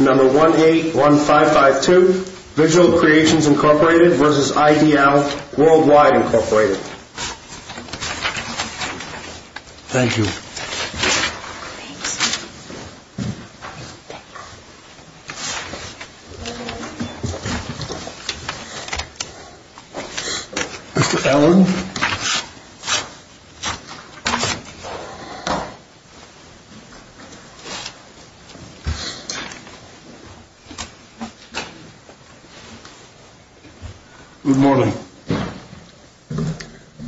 Number 181552, Vigil Creations, Inc. v. IDL Worldwide, Inc. Thank you. Mr. Allen. Good morning.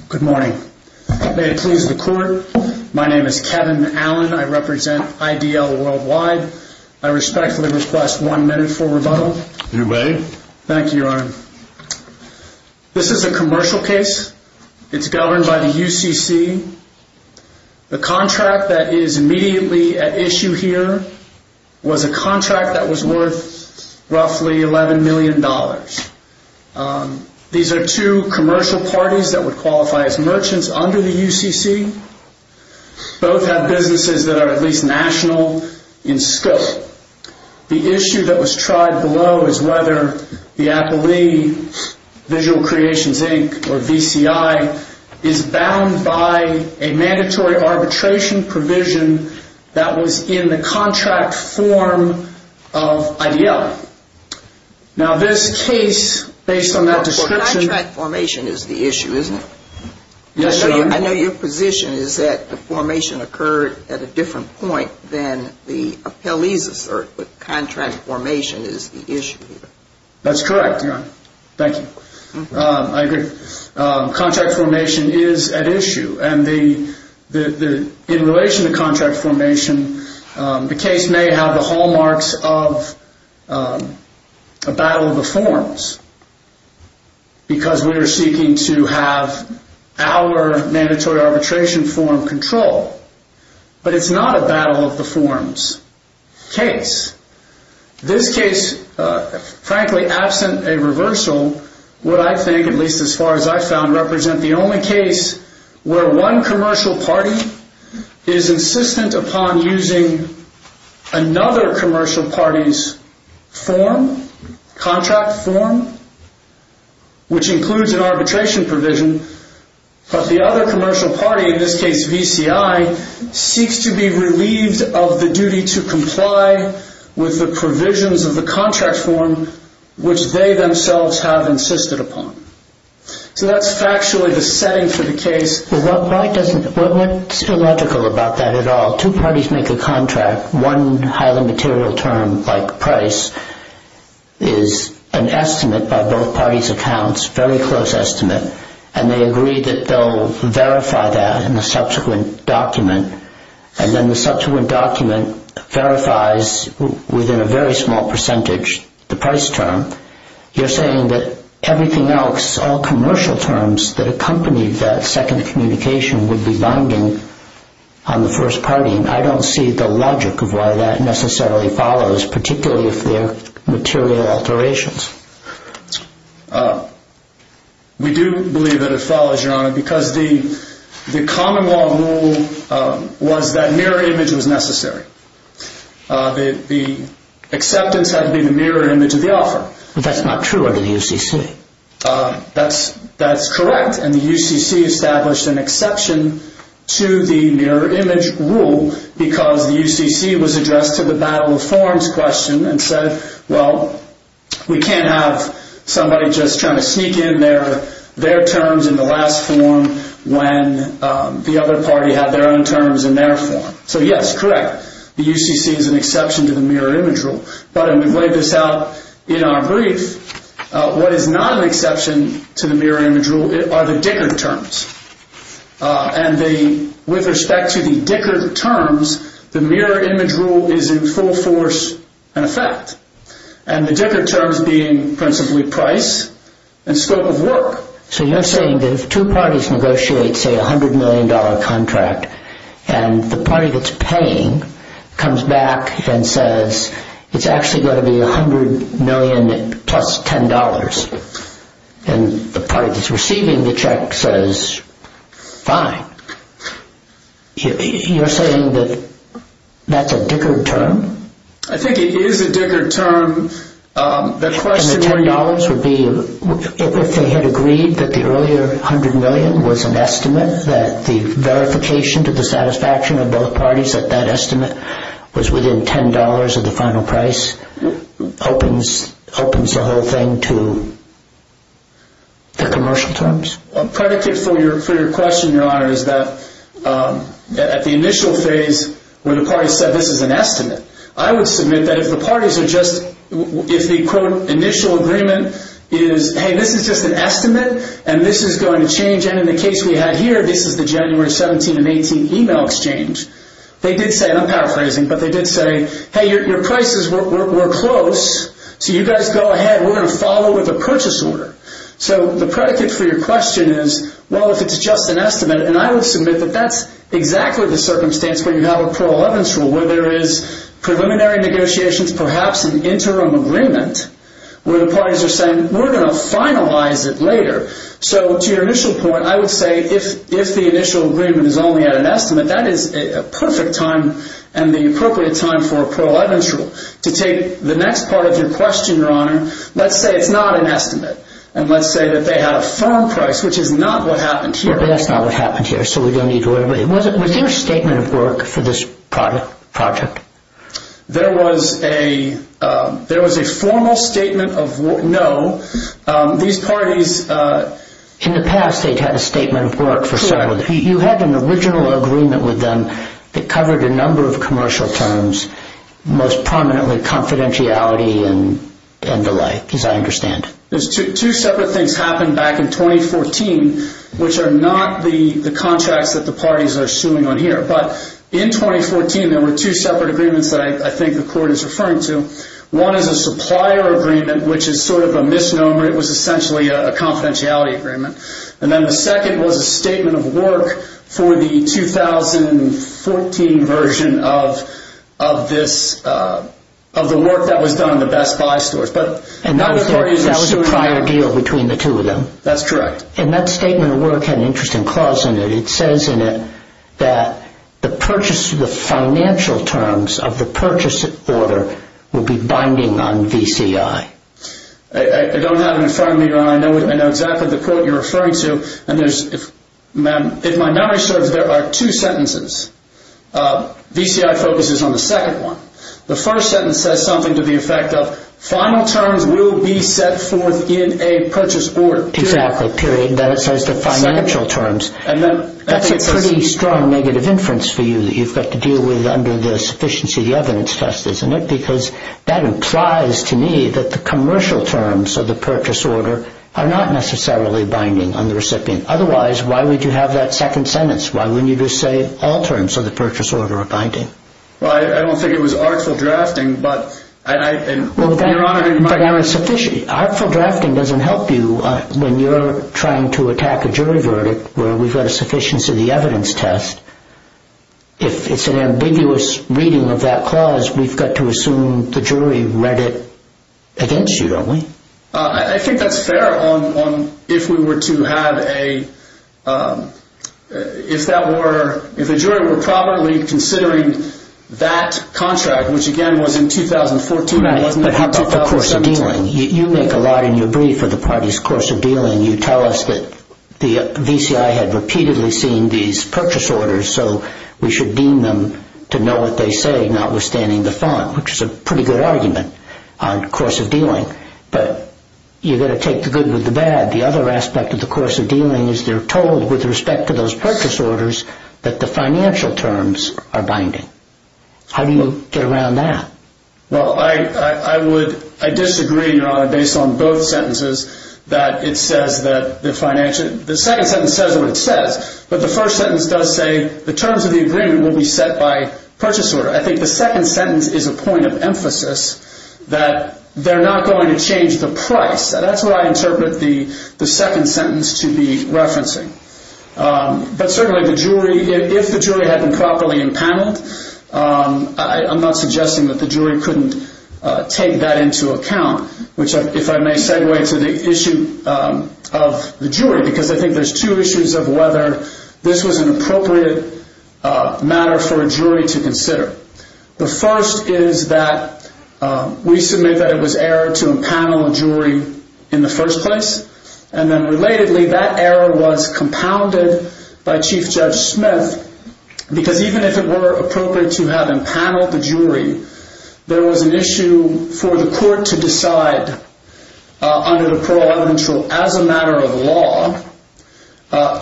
Good morning. May it please the Court, my name is Kevin Allen, I represent IDL Worldwide. I respectfully request one minute for rebuttal. You may. Thank you, Your Honor. This is a commercial case. It's governed by the UCC. The contract that is immediately at issue here was a contract with the UCC that was worth roughly $11 million. These are two commercial parties that would qualify as merchants under the UCC. Both have businesses that are at least national in scope. The issue that was tried below is whether the appellee, Vigil Creations, Inc., or VCI, is bound by a mandatory arbitration provision that was in the contract form of IDL. Now this case, based on that description... Contract formation is the issue, isn't it? Yes, Your Honor. I know your position is that the formation occurred at a different point than the appellee's assert, but contract formation is the issue here. That's correct, Your Honor. Thank you. I agree. Contract formation is at issue. In relation to contract formation, the case may have the hallmarks of a battle of the forms because we are seeking to have our mandatory arbitration form controlled, but it's not a battle of the forms case. This case, frankly, absent a reversal, would I think, at least as far as I've found, represent the only case where one commercial party is insistent upon using another commercial party's form, contract form, which includes an arbitration provision, but the other commercial party, in this case VCI, seeks to be relieved of the duty to comply with the provisions of the contract form, which they themselves have insisted upon. So that's factually the setting for the case. What's illogical about that at all? Two parties make a contract. One highly material term, like price, is an estimate by both parties' accounts, a very close estimate, and they agree that they'll verify that in the subsequent document, and then the subsequent document verifies within a very small percentage the price term. You're saying that everything else, all commercial terms that accompany that second communication, would be binding on the first party, and I don't see the logic of why that necessarily follows, particularly if they're material alterations. We do believe that it follows, Your Honor, because the common law rule was that mirror image was necessary. The acceptance had to be the mirror image of the offer. But that's not true under the UCC. That's correct, and the UCC established an exception to the mirror image rule because the UCC was addressed to the battle of forms question and said, well, we can't have somebody just trying to sneak in their terms in the last form when the other party had their own terms in their form. So yes, correct, the UCC is an exception to the mirror image rule, but I would lay this out in our brief. What is not an exception to the mirror image rule are the Dickert terms, and with respect to the Dickert terms, the mirror image rule is in full force and effect, and the Dickert terms being principally price and scope of work. So you're saying that if two parties negotiate, say, a $100 million contract, and the party that's paying comes back and says it's actually going to be $100 million plus $10, and the party that's receiving the check says, fine. You're saying that that's a Dickert term? I think it is a Dickert term. And the $10 would be if they had agreed that the earlier $100 million was an estimate, that the verification to the satisfaction of both parties that that estimate was within $10 of the final price opens the whole thing to the commercial terms. A predicate for your question, Your Honor, is that at the initial phase where the parties said this is an estimate, I would submit that if the parties are just, if the quote initial agreement is, hey, this is just an estimate, and this is going to change, and in the case we had here, this is the January 17 and 18 email exchange, they did say, and I'm paraphrasing, but they did say, hey, your prices were close, so you guys go ahead, we're going to follow with a purchase order. So the predicate for your question is, well, if it's just an estimate, and I would submit that that's exactly the circumstance where you have a Pearl Evans rule, where there is preliminary negotiations, perhaps an interim agreement, where the parties are saying, we're going to finalize it later. So to your initial point, I would say if the initial agreement is only at an estimate, that is a perfect time and the appropriate time for a Pearl Evans rule. To take the next part of your question, Your Honor, let's say it's not an estimate, and let's say that they had a firm price, which is not what happened here. But that's not what happened here, so we don't need to worry about it. Was there a statement of work for this project? There was a formal statement of no. These parties, in the past, they've had a statement of work for some of them. You had an original agreement with them that covered a number of commercial terms, most prominently confidentiality and the like, as I understand. Two separate things happened back in 2014, which are not the contracts that the parties are suing on here. But in 2014, there were two separate agreements that I think the Court is referring to. One is a supplier agreement, which is sort of a misnomer. It was essentially a confidentiality agreement. And then the second was a statement of work for the 2014 version of this, of the work that was done in the Best Buy stores. And that was a prior deal between the two of them? That's correct. And that statement of work had an interesting clause in it. It says in it that the purchase of the financial terms of the purchase order would be binding on VCI. I don't have it in front of me, but I know exactly the quote you're referring to. And if my memory serves, there are two sentences. VCI focuses on the second one. The first sentence says something to the effect of, final terms will be set forth in a purchase order. Exactly, period. Then it says the financial terms. That's a pretty strong negative inference for you that you've got to deal with under the sufficiency of the evidence test, isn't it? Because that implies to me that the commercial terms of the purchase order are not necessarily binding on the recipient. Otherwise, why would you have that second sentence? Why wouldn't you just say all terms of the purchase order are binding? Well, I don't think it was artful drafting, but, Your Honor, in my view. Artful drafting doesn't help you when you're trying to attack a jury verdict where we've got a sufficiency of the evidence test. If it's an ambiguous reading of that clause, we've got to assume the jury read it against you, don't we? I think that's fair on if we were to have a – if a jury were probably considering that contract, which, again, was in 2014. But how about the course of dealing? You make a lot in your brief of the parties' course of dealing. You tell us that the VCI had repeatedly seen these purchase orders, so we should deem them to know what they say, notwithstanding the font, which is a pretty good argument on course of dealing. But you've got to take the good with the bad. The other aspect of the course of dealing is they're told, with respect to those purchase orders, that the financial terms are binding. How do you get around that? Well, I would – I disagree, Your Honor, based on both sentences, that it says that the financial – the second sentence says what it says, but the first sentence does say the terms of the agreement will be set by purchase order. I think the second sentence is a point of emphasis that they're not going to change the price. That's what I interpret the second sentence to be referencing. But certainly the jury – if the jury had been properly impaneled, I'm not suggesting that the jury couldn't take that into account, which, if I may segue to the issue of the jury, because I think there's two issues of whether this was an appropriate matter for a jury to consider. The first is that we submit that it was error to impanel a jury in the first place, and then relatedly that error was compounded by Chief Judge Smith, because even if it were appropriate to have impaneled the jury, there was an issue for the court to decide under the Parole Evidence Rule as a matter of law,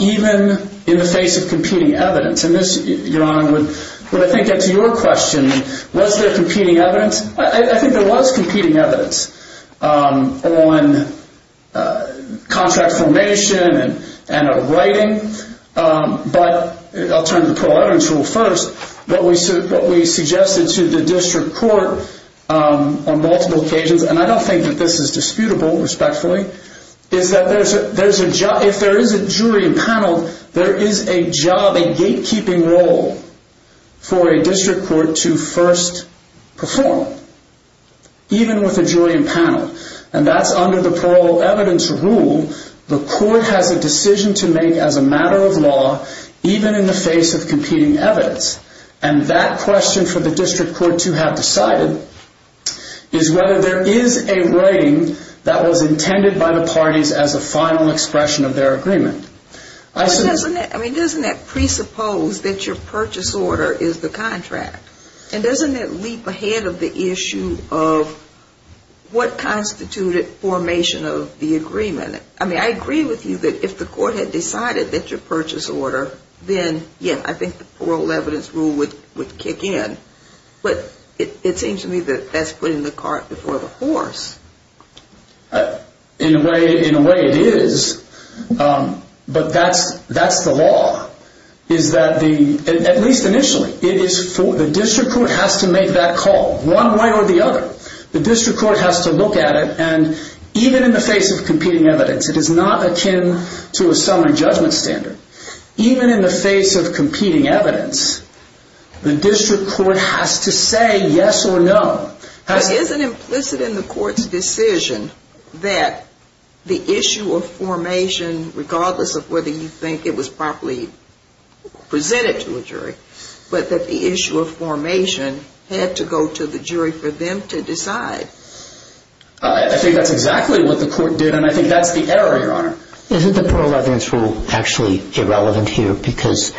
even in the face of competing evidence. And this, Your Honor, would I think answer your question. Was there competing evidence? I think there was competing evidence on contract formation and a rating, but I'll turn to the Parole Evidence Rule first. What we suggested to the district court on multiple occasions, and I don't think that this is disputable, respectfully, is that if there is a jury impaneled, there is a job, a gatekeeping role, for a district court to first perform, even with a jury impaneled. And that's under the Parole Evidence Rule. The court has a decision to make as a matter of law, even in the face of competing evidence. And that question for the district court to have decided is whether there is a rating that was intended by the parties as a final expression of their agreement. I mean, doesn't that presuppose that your purchase order is the contract? And doesn't that leap ahead of the issue of what constituted formation of the agreement? I mean, I agree with you that if the court had decided that your purchase order, then, yeah, I think the Parole Evidence Rule would kick in. But it seems to me that that's putting the cart before the horse. In a way it is, but that's the law. At least initially, the district court has to make that call, one way or the other. The district court has to look at it, and even in the face of competing evidence, it is not akin to a summary judgment standard. Even in the face of competing evidence, the district court has to say yes or no. But isn't implicit in the court's decision that the issue of formation, regardless of whether you think it was properly presented to a jury, but that the issue of formation had to go to the jury for them to decide? I think that's exactly what the court did, and I think that's the error, Your Honor. Isn't the Parole Evidence Rule actually irrelevant here? Because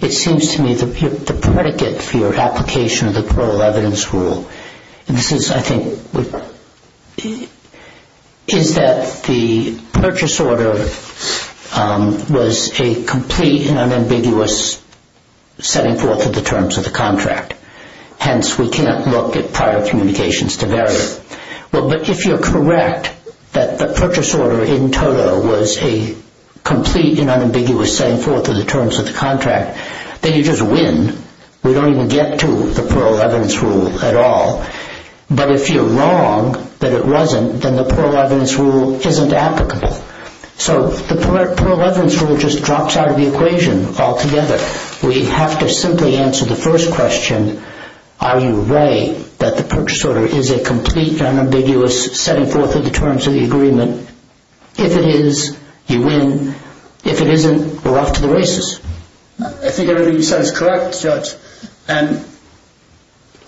it seems to me that the predicate for your application of the Parole Evidence Rule, and this is, I think, is that the purchase order was a complete and unambiguous setting forth of the terms of the contract. Hence, we cannot look at prior communications to vary it. But if you're correct that the purchase order in total was a complete and unambiguous setting forth of the terms of the contract, then you just win. We don't even get to the Parole Evidence Rule at all. But if you're wrong that it wasn't, then the Parole Evidence Rule isn't applicable. So the Parole Evidence Rule just drops out of the equation altogether. We have to simply answer the first question, are you ray that the purchase order is a complete and unambiguous setting forth of the terms of the agreement? If it is, you win. If it isn't, we're off to the races. I think everything you said is correct, Judge. And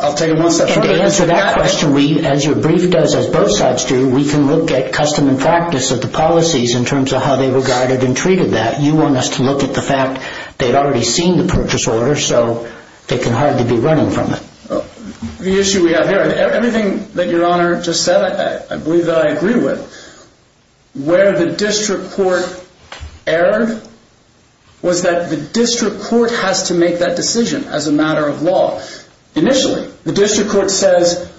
I'll take it one step further. To answer that question, as your brief does, as both sides do, we can look at custom and practice of the policies in terms of how they regarded and treated that. You want us to look at the fact they'd already seen the purchase order, so they can hardly be running from it. The issue we have here, everything that Your Honor just said, I believe that I agree with. Where the district court erred was that the district court has to make that decision as a matter of law. Initially, the district court says...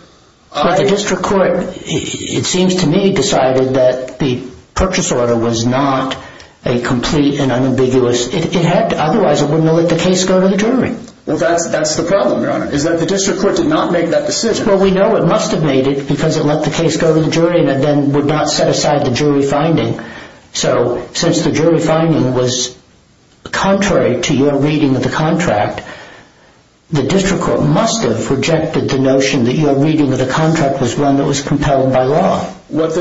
But the district court, it seems to me, decided that the purchase order was not a complete and unambiguous... Otherwise it wouldn't have let the case go to the jury. Well, that's the problem, Your Honor, is that the district court did not make that decision. Well, we know it must have made it because it let the case go to the jury and then would not set aside the jury finding. So since the jury finding was contrary to your reading of the contract, the district court must have rejected the notion that your reading of the contract was one that was compelled by law. What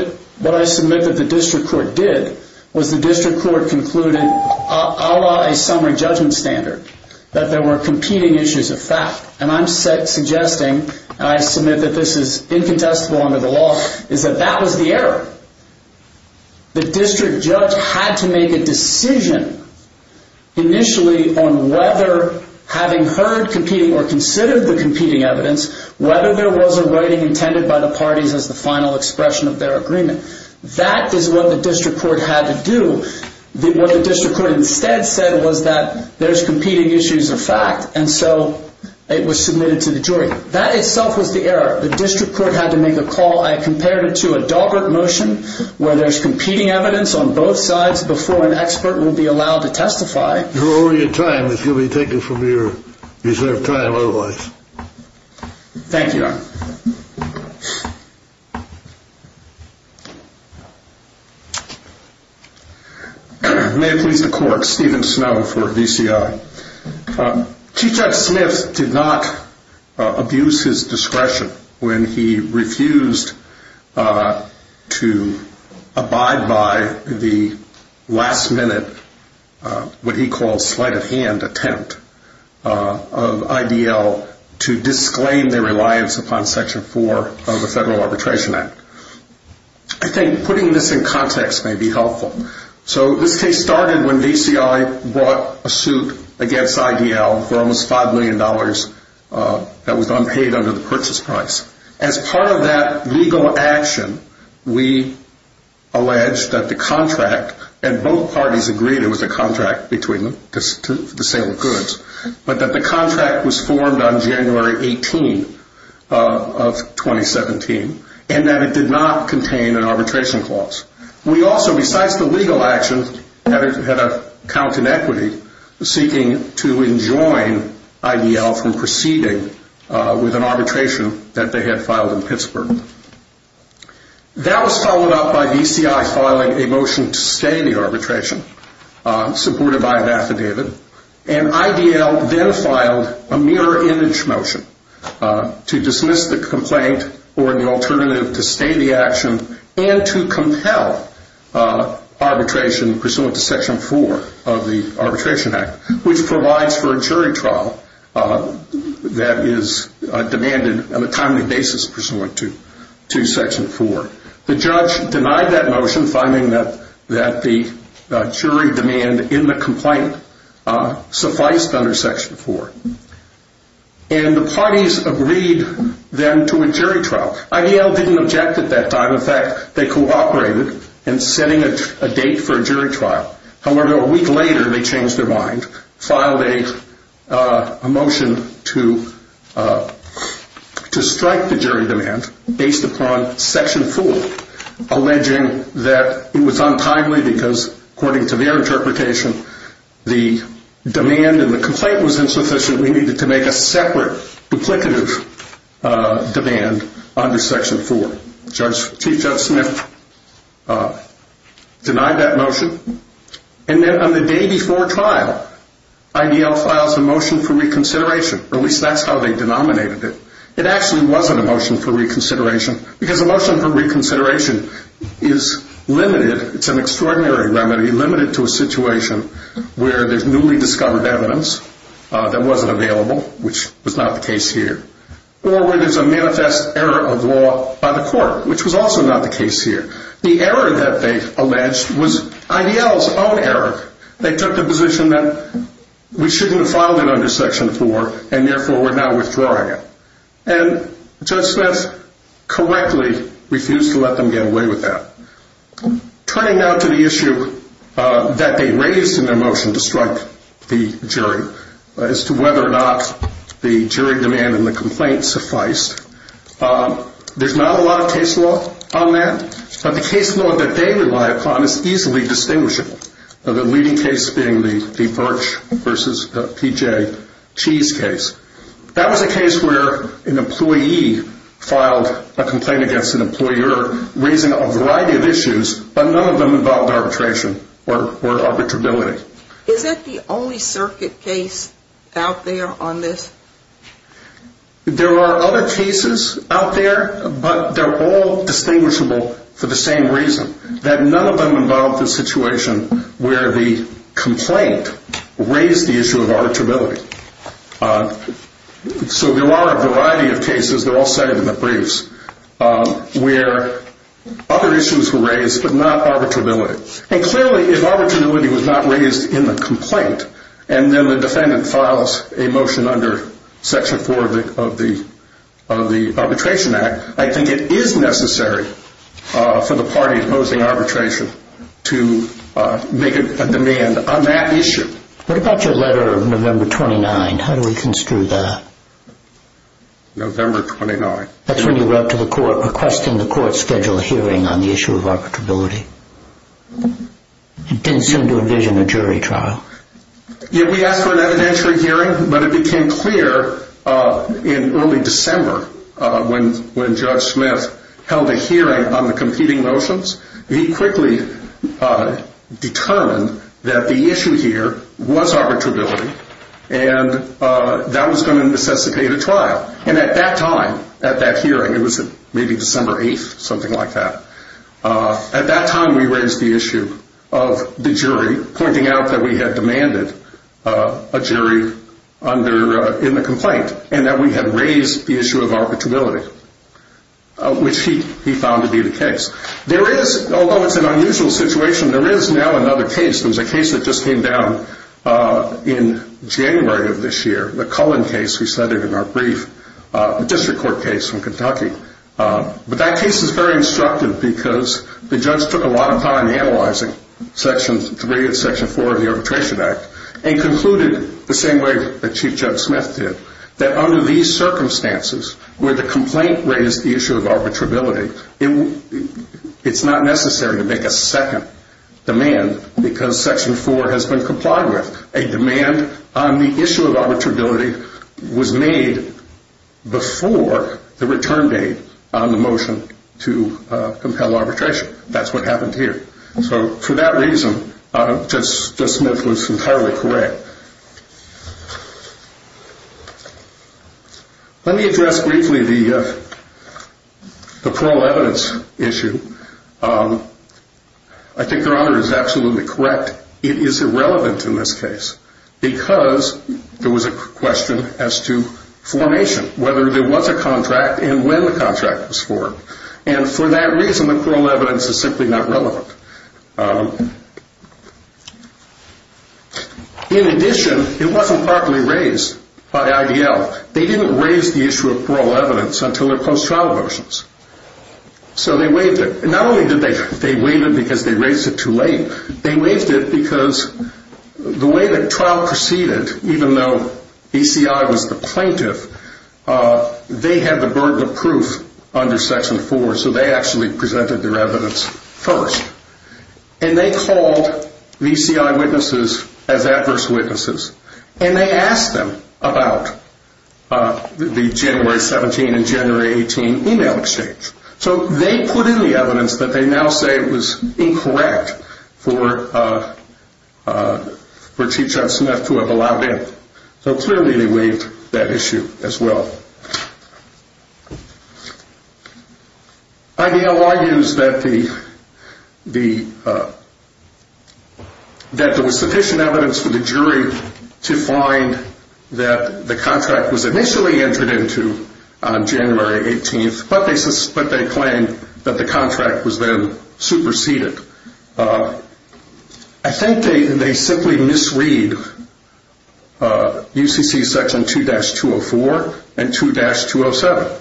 I submit that the district court did was the district court concluded, a la a summary judgment standard, that there were competing issues of fact. And I'm suggesting, and I submit that this is incontestable under the law, is that that was the error. The district judge had to make a decision initially on whether, having heard competing or considered the competing evidence, whether there was a writing intended by the parties as the final expression of their agreement. That is what the district court had to do. What the district court instead said was that there's competing issues of fact, and so it was submitted to the jury. That itself was the error. The district court had to make a call. I compared it to a Daubert motion where there's competing evidence on both sides before an expert will be allowed to testify. You're over your time. This will be taken from your reserve time otherwise. Thank you. May it please the court. Steven Snow for VCI. Chief Judge Smith did not abuse his discretion when he refused to abide by the last minute, what he calls sleight of hand attempt of IDL to disclaim their reliance upon Section 4 of the Federal Arbitration Act. I think putting this in context may be helpful. This case started when VCI brought a suit against IDL for almost $5 million that was unpaid under the purchase price. As part of that legal action, we alleged that the contract, and both parties agreed it was a contract between them to sale of goods, but that the contract was formed on January 18 of 2017 and that it did not contain an arbitration clause. We also, besides the legal action, had a count in equity seeking to enjoin IDL from proceeding with an arbitration that they had filed in Pittsburgh. That was followed up by VCI filing a motion to stay the arbitration supported by an affidavit, and IDL then filed a mirror image motion to dismiss the complaint or the alternative to stay the action and to compel arbitration pursuant to Section 4 of the Arbitration Act, which provides for a jury trial that is demanded on a timely basis pursuant to Section 4. The judge denied that motion, finding that the jury demand in the complaint sufficed under Section 4. And the parties agreed then to a jury trial. IDL didn't object at that time. In fact, they cooperated in setting a date for a jury trial. However, a week later, they changed their mind, filed a motion to strike the jury demand based upon Section 4, alleging that it was untimely because, according to their interpretation, the demand in the complaint was insufficient. We needed to make a separate duplicative demand under Section 4. Chief Judge Smith denied that motion. And then on the day before trial, IDL files a motion for reconsideration. At least that's how they denominated it. It actually wasn't a motion for reconsideration because a motion for reconsideration is limited. It's an extraordinary remedy limited to a situation where there's newly discovered evidence that wasn't available, which was not the case here, or where there's a manifest error of law by the court, which was also not the case here. The error that they alleged was IDL's own error. They took the position that we shouldn't have filed it under Section 4, and therefore we're now withdrawing it. And Judge Smith correctly refused to let them get away with that. Turning now to the issue that they raised in their motion to strike the jury, as to whether or not the jury demand in the complaint sufficed, there's not a lot of case law on that. But the case law that they rely upon is easily distinguishable, the leading case being the Birch v. P.J. Cheese case. That was a case where an employee filed a complaint against an employer raising a variety of issues, but none of them involved arbitration or arbitrability. Is that the only circuit case out there on this? There are other cases out there, but they're all distinguishable for the same reason, that none of them involved a situation where the complaint raised the issue of arbitrability. So there are a variety of cases, they're all cited in the briefs, where other issues were raised, but not arbitrability. And clearly, if arbitrability was not raised in the complaint, and then the defendant files a motion under Section 4 of the Arbitration Act, I think it is necessary for the party opposing arbitration to make a demand on that issue. What about your letter of November 29? How do we construe that? November 29. That's when you wrote to the court requesting the court schedule a hearing on the issue of arbitrability. It didn't seem to envision a jury trial. Yeah, we asked for an evidentiary hearing, but it became clear in early December, when Judge Smith held a hearing on the competing motions. He quickly determined that the issue here was arbitrability, and that was going to necessitate a trial. And at that time, at that hearing, it was maybe December 8th, something like that. At that time, we raised the issue of the jury, pointing out that we had demanded a jury in the complaint, and that we had raised the issue of arbitrability, which he found to be the case. There is, although it's an unusual situation, there is now another case. There was a case that just came down in January of this year, the Cullen case we cited in our brief, the district court case from Kentucky. But that case is very instructive because the judge took a lot of time analyzing Section 3 and Section 4 of the Arbitration Act, and concluded the same way that Chief Judge Smith did, that under these circumstances, where the complaint raised the issue of arbitrability, it's not necessary to make a second demand because Section 4 has been complied with. A demand on the issue of arbitrability was made before the return date on the motion to compel arbitration. That's what happened here. So for that reason, Judge Smith was entirely correct. Let me address briefly the plural evidence issue. I think Your Honor is absolutely correct. It is irrelevant in this case because there was a question as to formation, whether there was a contract and when the contract was formed. And for that reason, the plural evidence is simply not relevant. In addition, it wasn't properly raised by IDL. They didn't raise the issue of plural evidence until their post-trial motions. So they waived it. Not only did they waive it because they raised it too late, they waived it because the way the trial proceeded, even though ACI was the plaintiff, they had the burden of proof under Section 4, so they actually presented their evidence first. And they called VCI witnesses as adverse witnesses. And they asked them about the January 17 and January 18 email exchange. So they put in the evidence that they now say was incorrect for Chief Judge Smith to have allowed in. So clearly they waived that issue as well. IDL argues that there was sufficient evidence for the jury to find that the contract was initially entered into on January 18, but they claimed that the contract was then superseded. I think they simply misread UCC Section 2-204 and 2-207.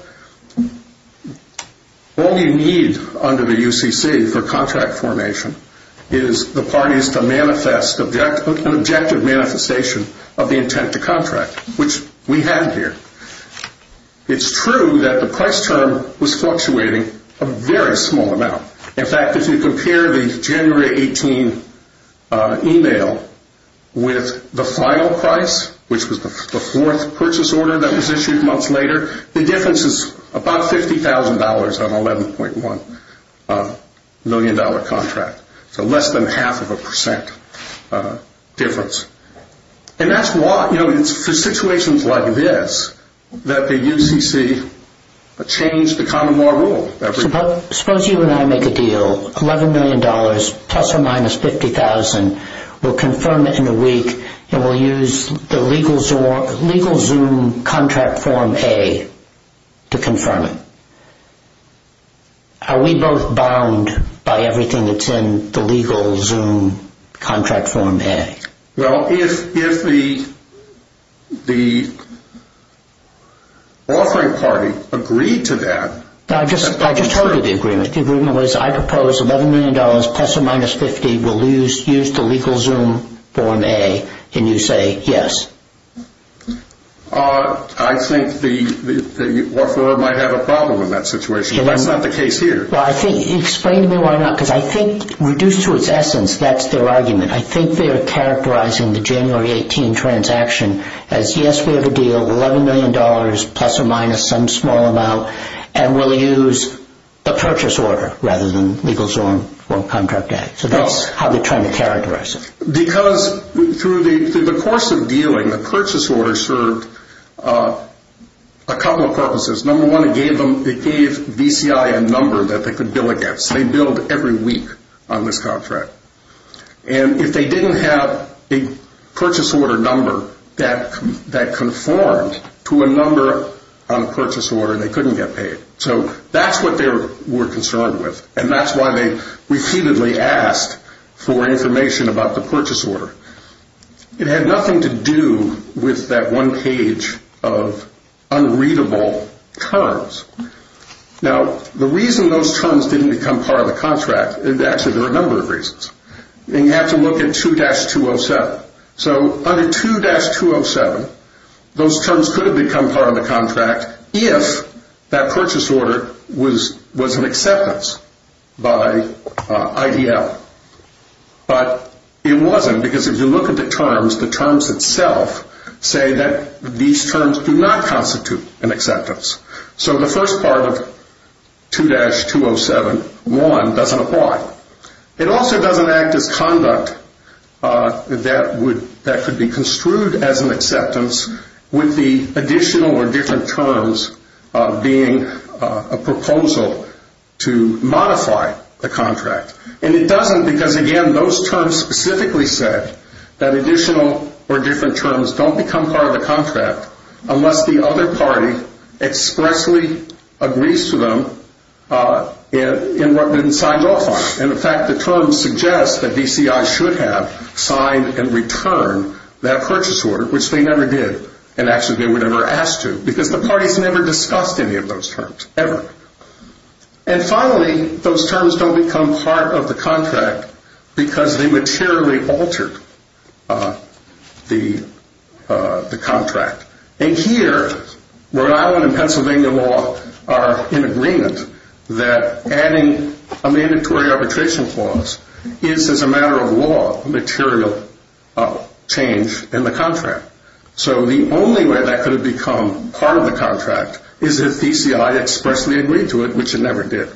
All you need under the UCC for contract formation is the parties to manifest an objective manifestation of the intent to contract, which we have here. It's true that the price term was fluctuating a very small amount. In fact, if you compare the January 18 email with the final price, which was the fourth purchase order that was issued months later, the difference is about $50,000 on an $11.1 million contract, so less than half of a percent difference. And that's why, you know, it's for situations like this that the UCC changed the common law rule. Suppose you and I make a deal, $11 million plus or minus $50,000. We'll confirm it in a week, and we'll use the legal Zoom contract form A to confirm it. Are we both bound by everything that's in the legal Zoom contract form A? Well, if the offering party agreed to that. I just heard the agreement. The agreement was I propose $11 million plus or minus $50,000. We'll use the legal Zoom form A, and you say yes. I think the offeror might have a problem in that situation. That's not the case here. Explain to me why not, because I think reduced to its essence, that's their argument. I think they are characterizing the January 18 transaction as, yes, we have a deal, $11 million plus or minus some small amount, and we'll use the purchase order rather than legal Zoom form contract A. So that's how they're trying to characterize it. Because through the course of dealing, the purchase order served a couple of purposes. Number one, it gave BCI a number that they could bill against. They billed every week on this contract. And if they didn't have a purchase order number that conformed to a number on a purchase order, they couldn't get paid. So that's what they were concerned with, and that's why they repeatedly asked for information about the purchase order. It had nothing to do with that one page of unreadable terms. Now, the reason those terms didn't become part of the contract, actually, there are a number of reasons. You have to look at 2-207. So under 2-207, those terms could have become part of the contract if that purchase order was an acceptance by IDL. But it wasn't, because if you look at the terms, the terms itself say that these terms do not constitute an acceptance. So the first part of 2-207-1 doesn't apply. It also doesn't act as conduct that could be construed as an acceptance with the additional or different terms being a proposal to modify the contract. And it doesn't because, again, those terms specifically said that additional or different terms don't become part of the contract unless the other party expressly agrees to them in what they've been signed off on. And, in fact, the terms suggest that DCI should have signed and returned that purchase order, which they never did, and actually they were never asked to, because the parties never discussed any of those terms, ever. And finally, those terms don't become part of the contract because they materially altered the contract. And here Rhode Island and Pennsylvania law are in agreement that adding a mandatory arbitration clause is, as a matter of law, a material change in the contract. So the only way that could have become part of the contract is if DCI expressly agreed to it, which it never did.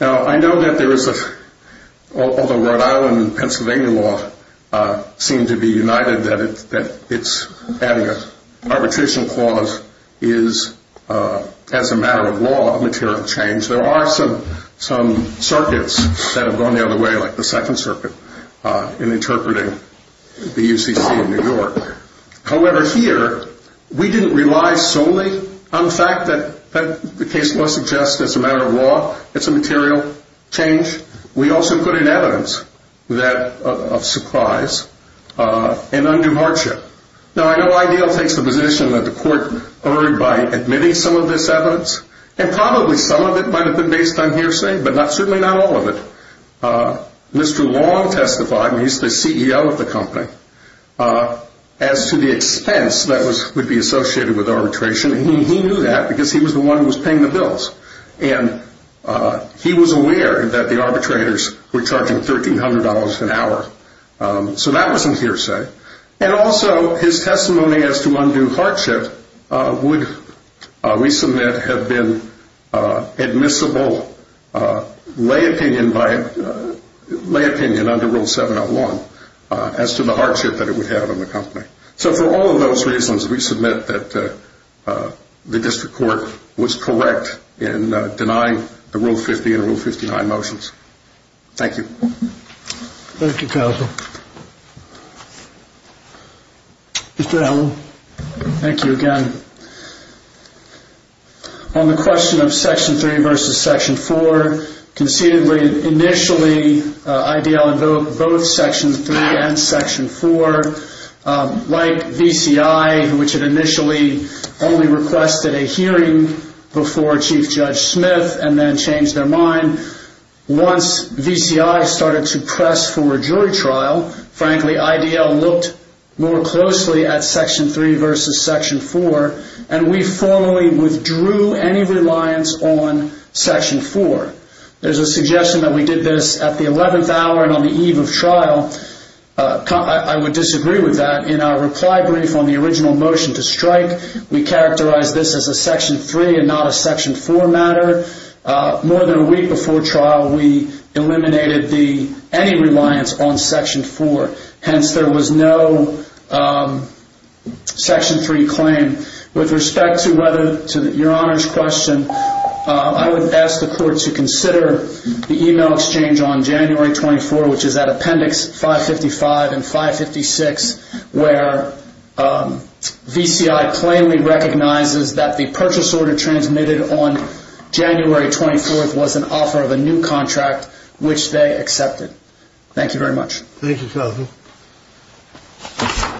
Now, I know that there is a, although Rhode Island and Pennsylvania law seem to be united, that it's adding an arbitration clause is, as a matter of law, a material change. There are some circuits that have gone the other way, like the Second Circuit, However, here, we didn't rely solely on the fact that, as the case law suggests, as a matter of law, it's a material change. We also put in evidence of surprise and undue hardship. Now, I know IDEAL takes the position that the court erred by admitting some of this evidence, and probably some of it might have been based on hearsay, but certainly not all of it. Mr. Long testified, and he's the CEO of the company, as to the expense that would be associated with arbitration. He knew that because he was the one who was paying the bills. And he was aware that the arbitrators were charging $1,300 an hour. So that was in hearsay. And also, his testimony as to undue hardship would, we submit, have been admissible lay opinion under Rule 701 as to the hardship that it would have on the company. So for all of those reasons, we submit that the district court was correct in denying the Rule 50 and Rule 59 motions. Thank you. Thank you, counsel. Mr. Hellman. Thank you again. On the question of Section 3 versus Section 4, concededly, initially, IDL invoked both Section 3 and Section 4. Like VCI, which had initially only requested a hearing before Chief Judge Smith and then changed their mind, once VCI started to press for a jury trial, frankly, IDL looked more closely at Section 3 versus Section 4, and we formally withdrew any reliance on Section 4. There's a suggestion that we did this at the 11th hour and on the eve of trial. I would disagree with that. In our reply brief on the original motion to strike, we characterized this as a Section 3 and not a Section 4 matter. More than a week before trial, we eliminated any reliance on Section 4. Hence, there was no Section 3 claim. With respect to your Honor's question, I would ask the court to consider the email exchange on January 24, which is at Appendix 555 and 556, where VCI plainly recognizes that the purchase order transmitted on January 24th was an offer of a new contract, which they accepted. Thank you very much. Thank you, counsel.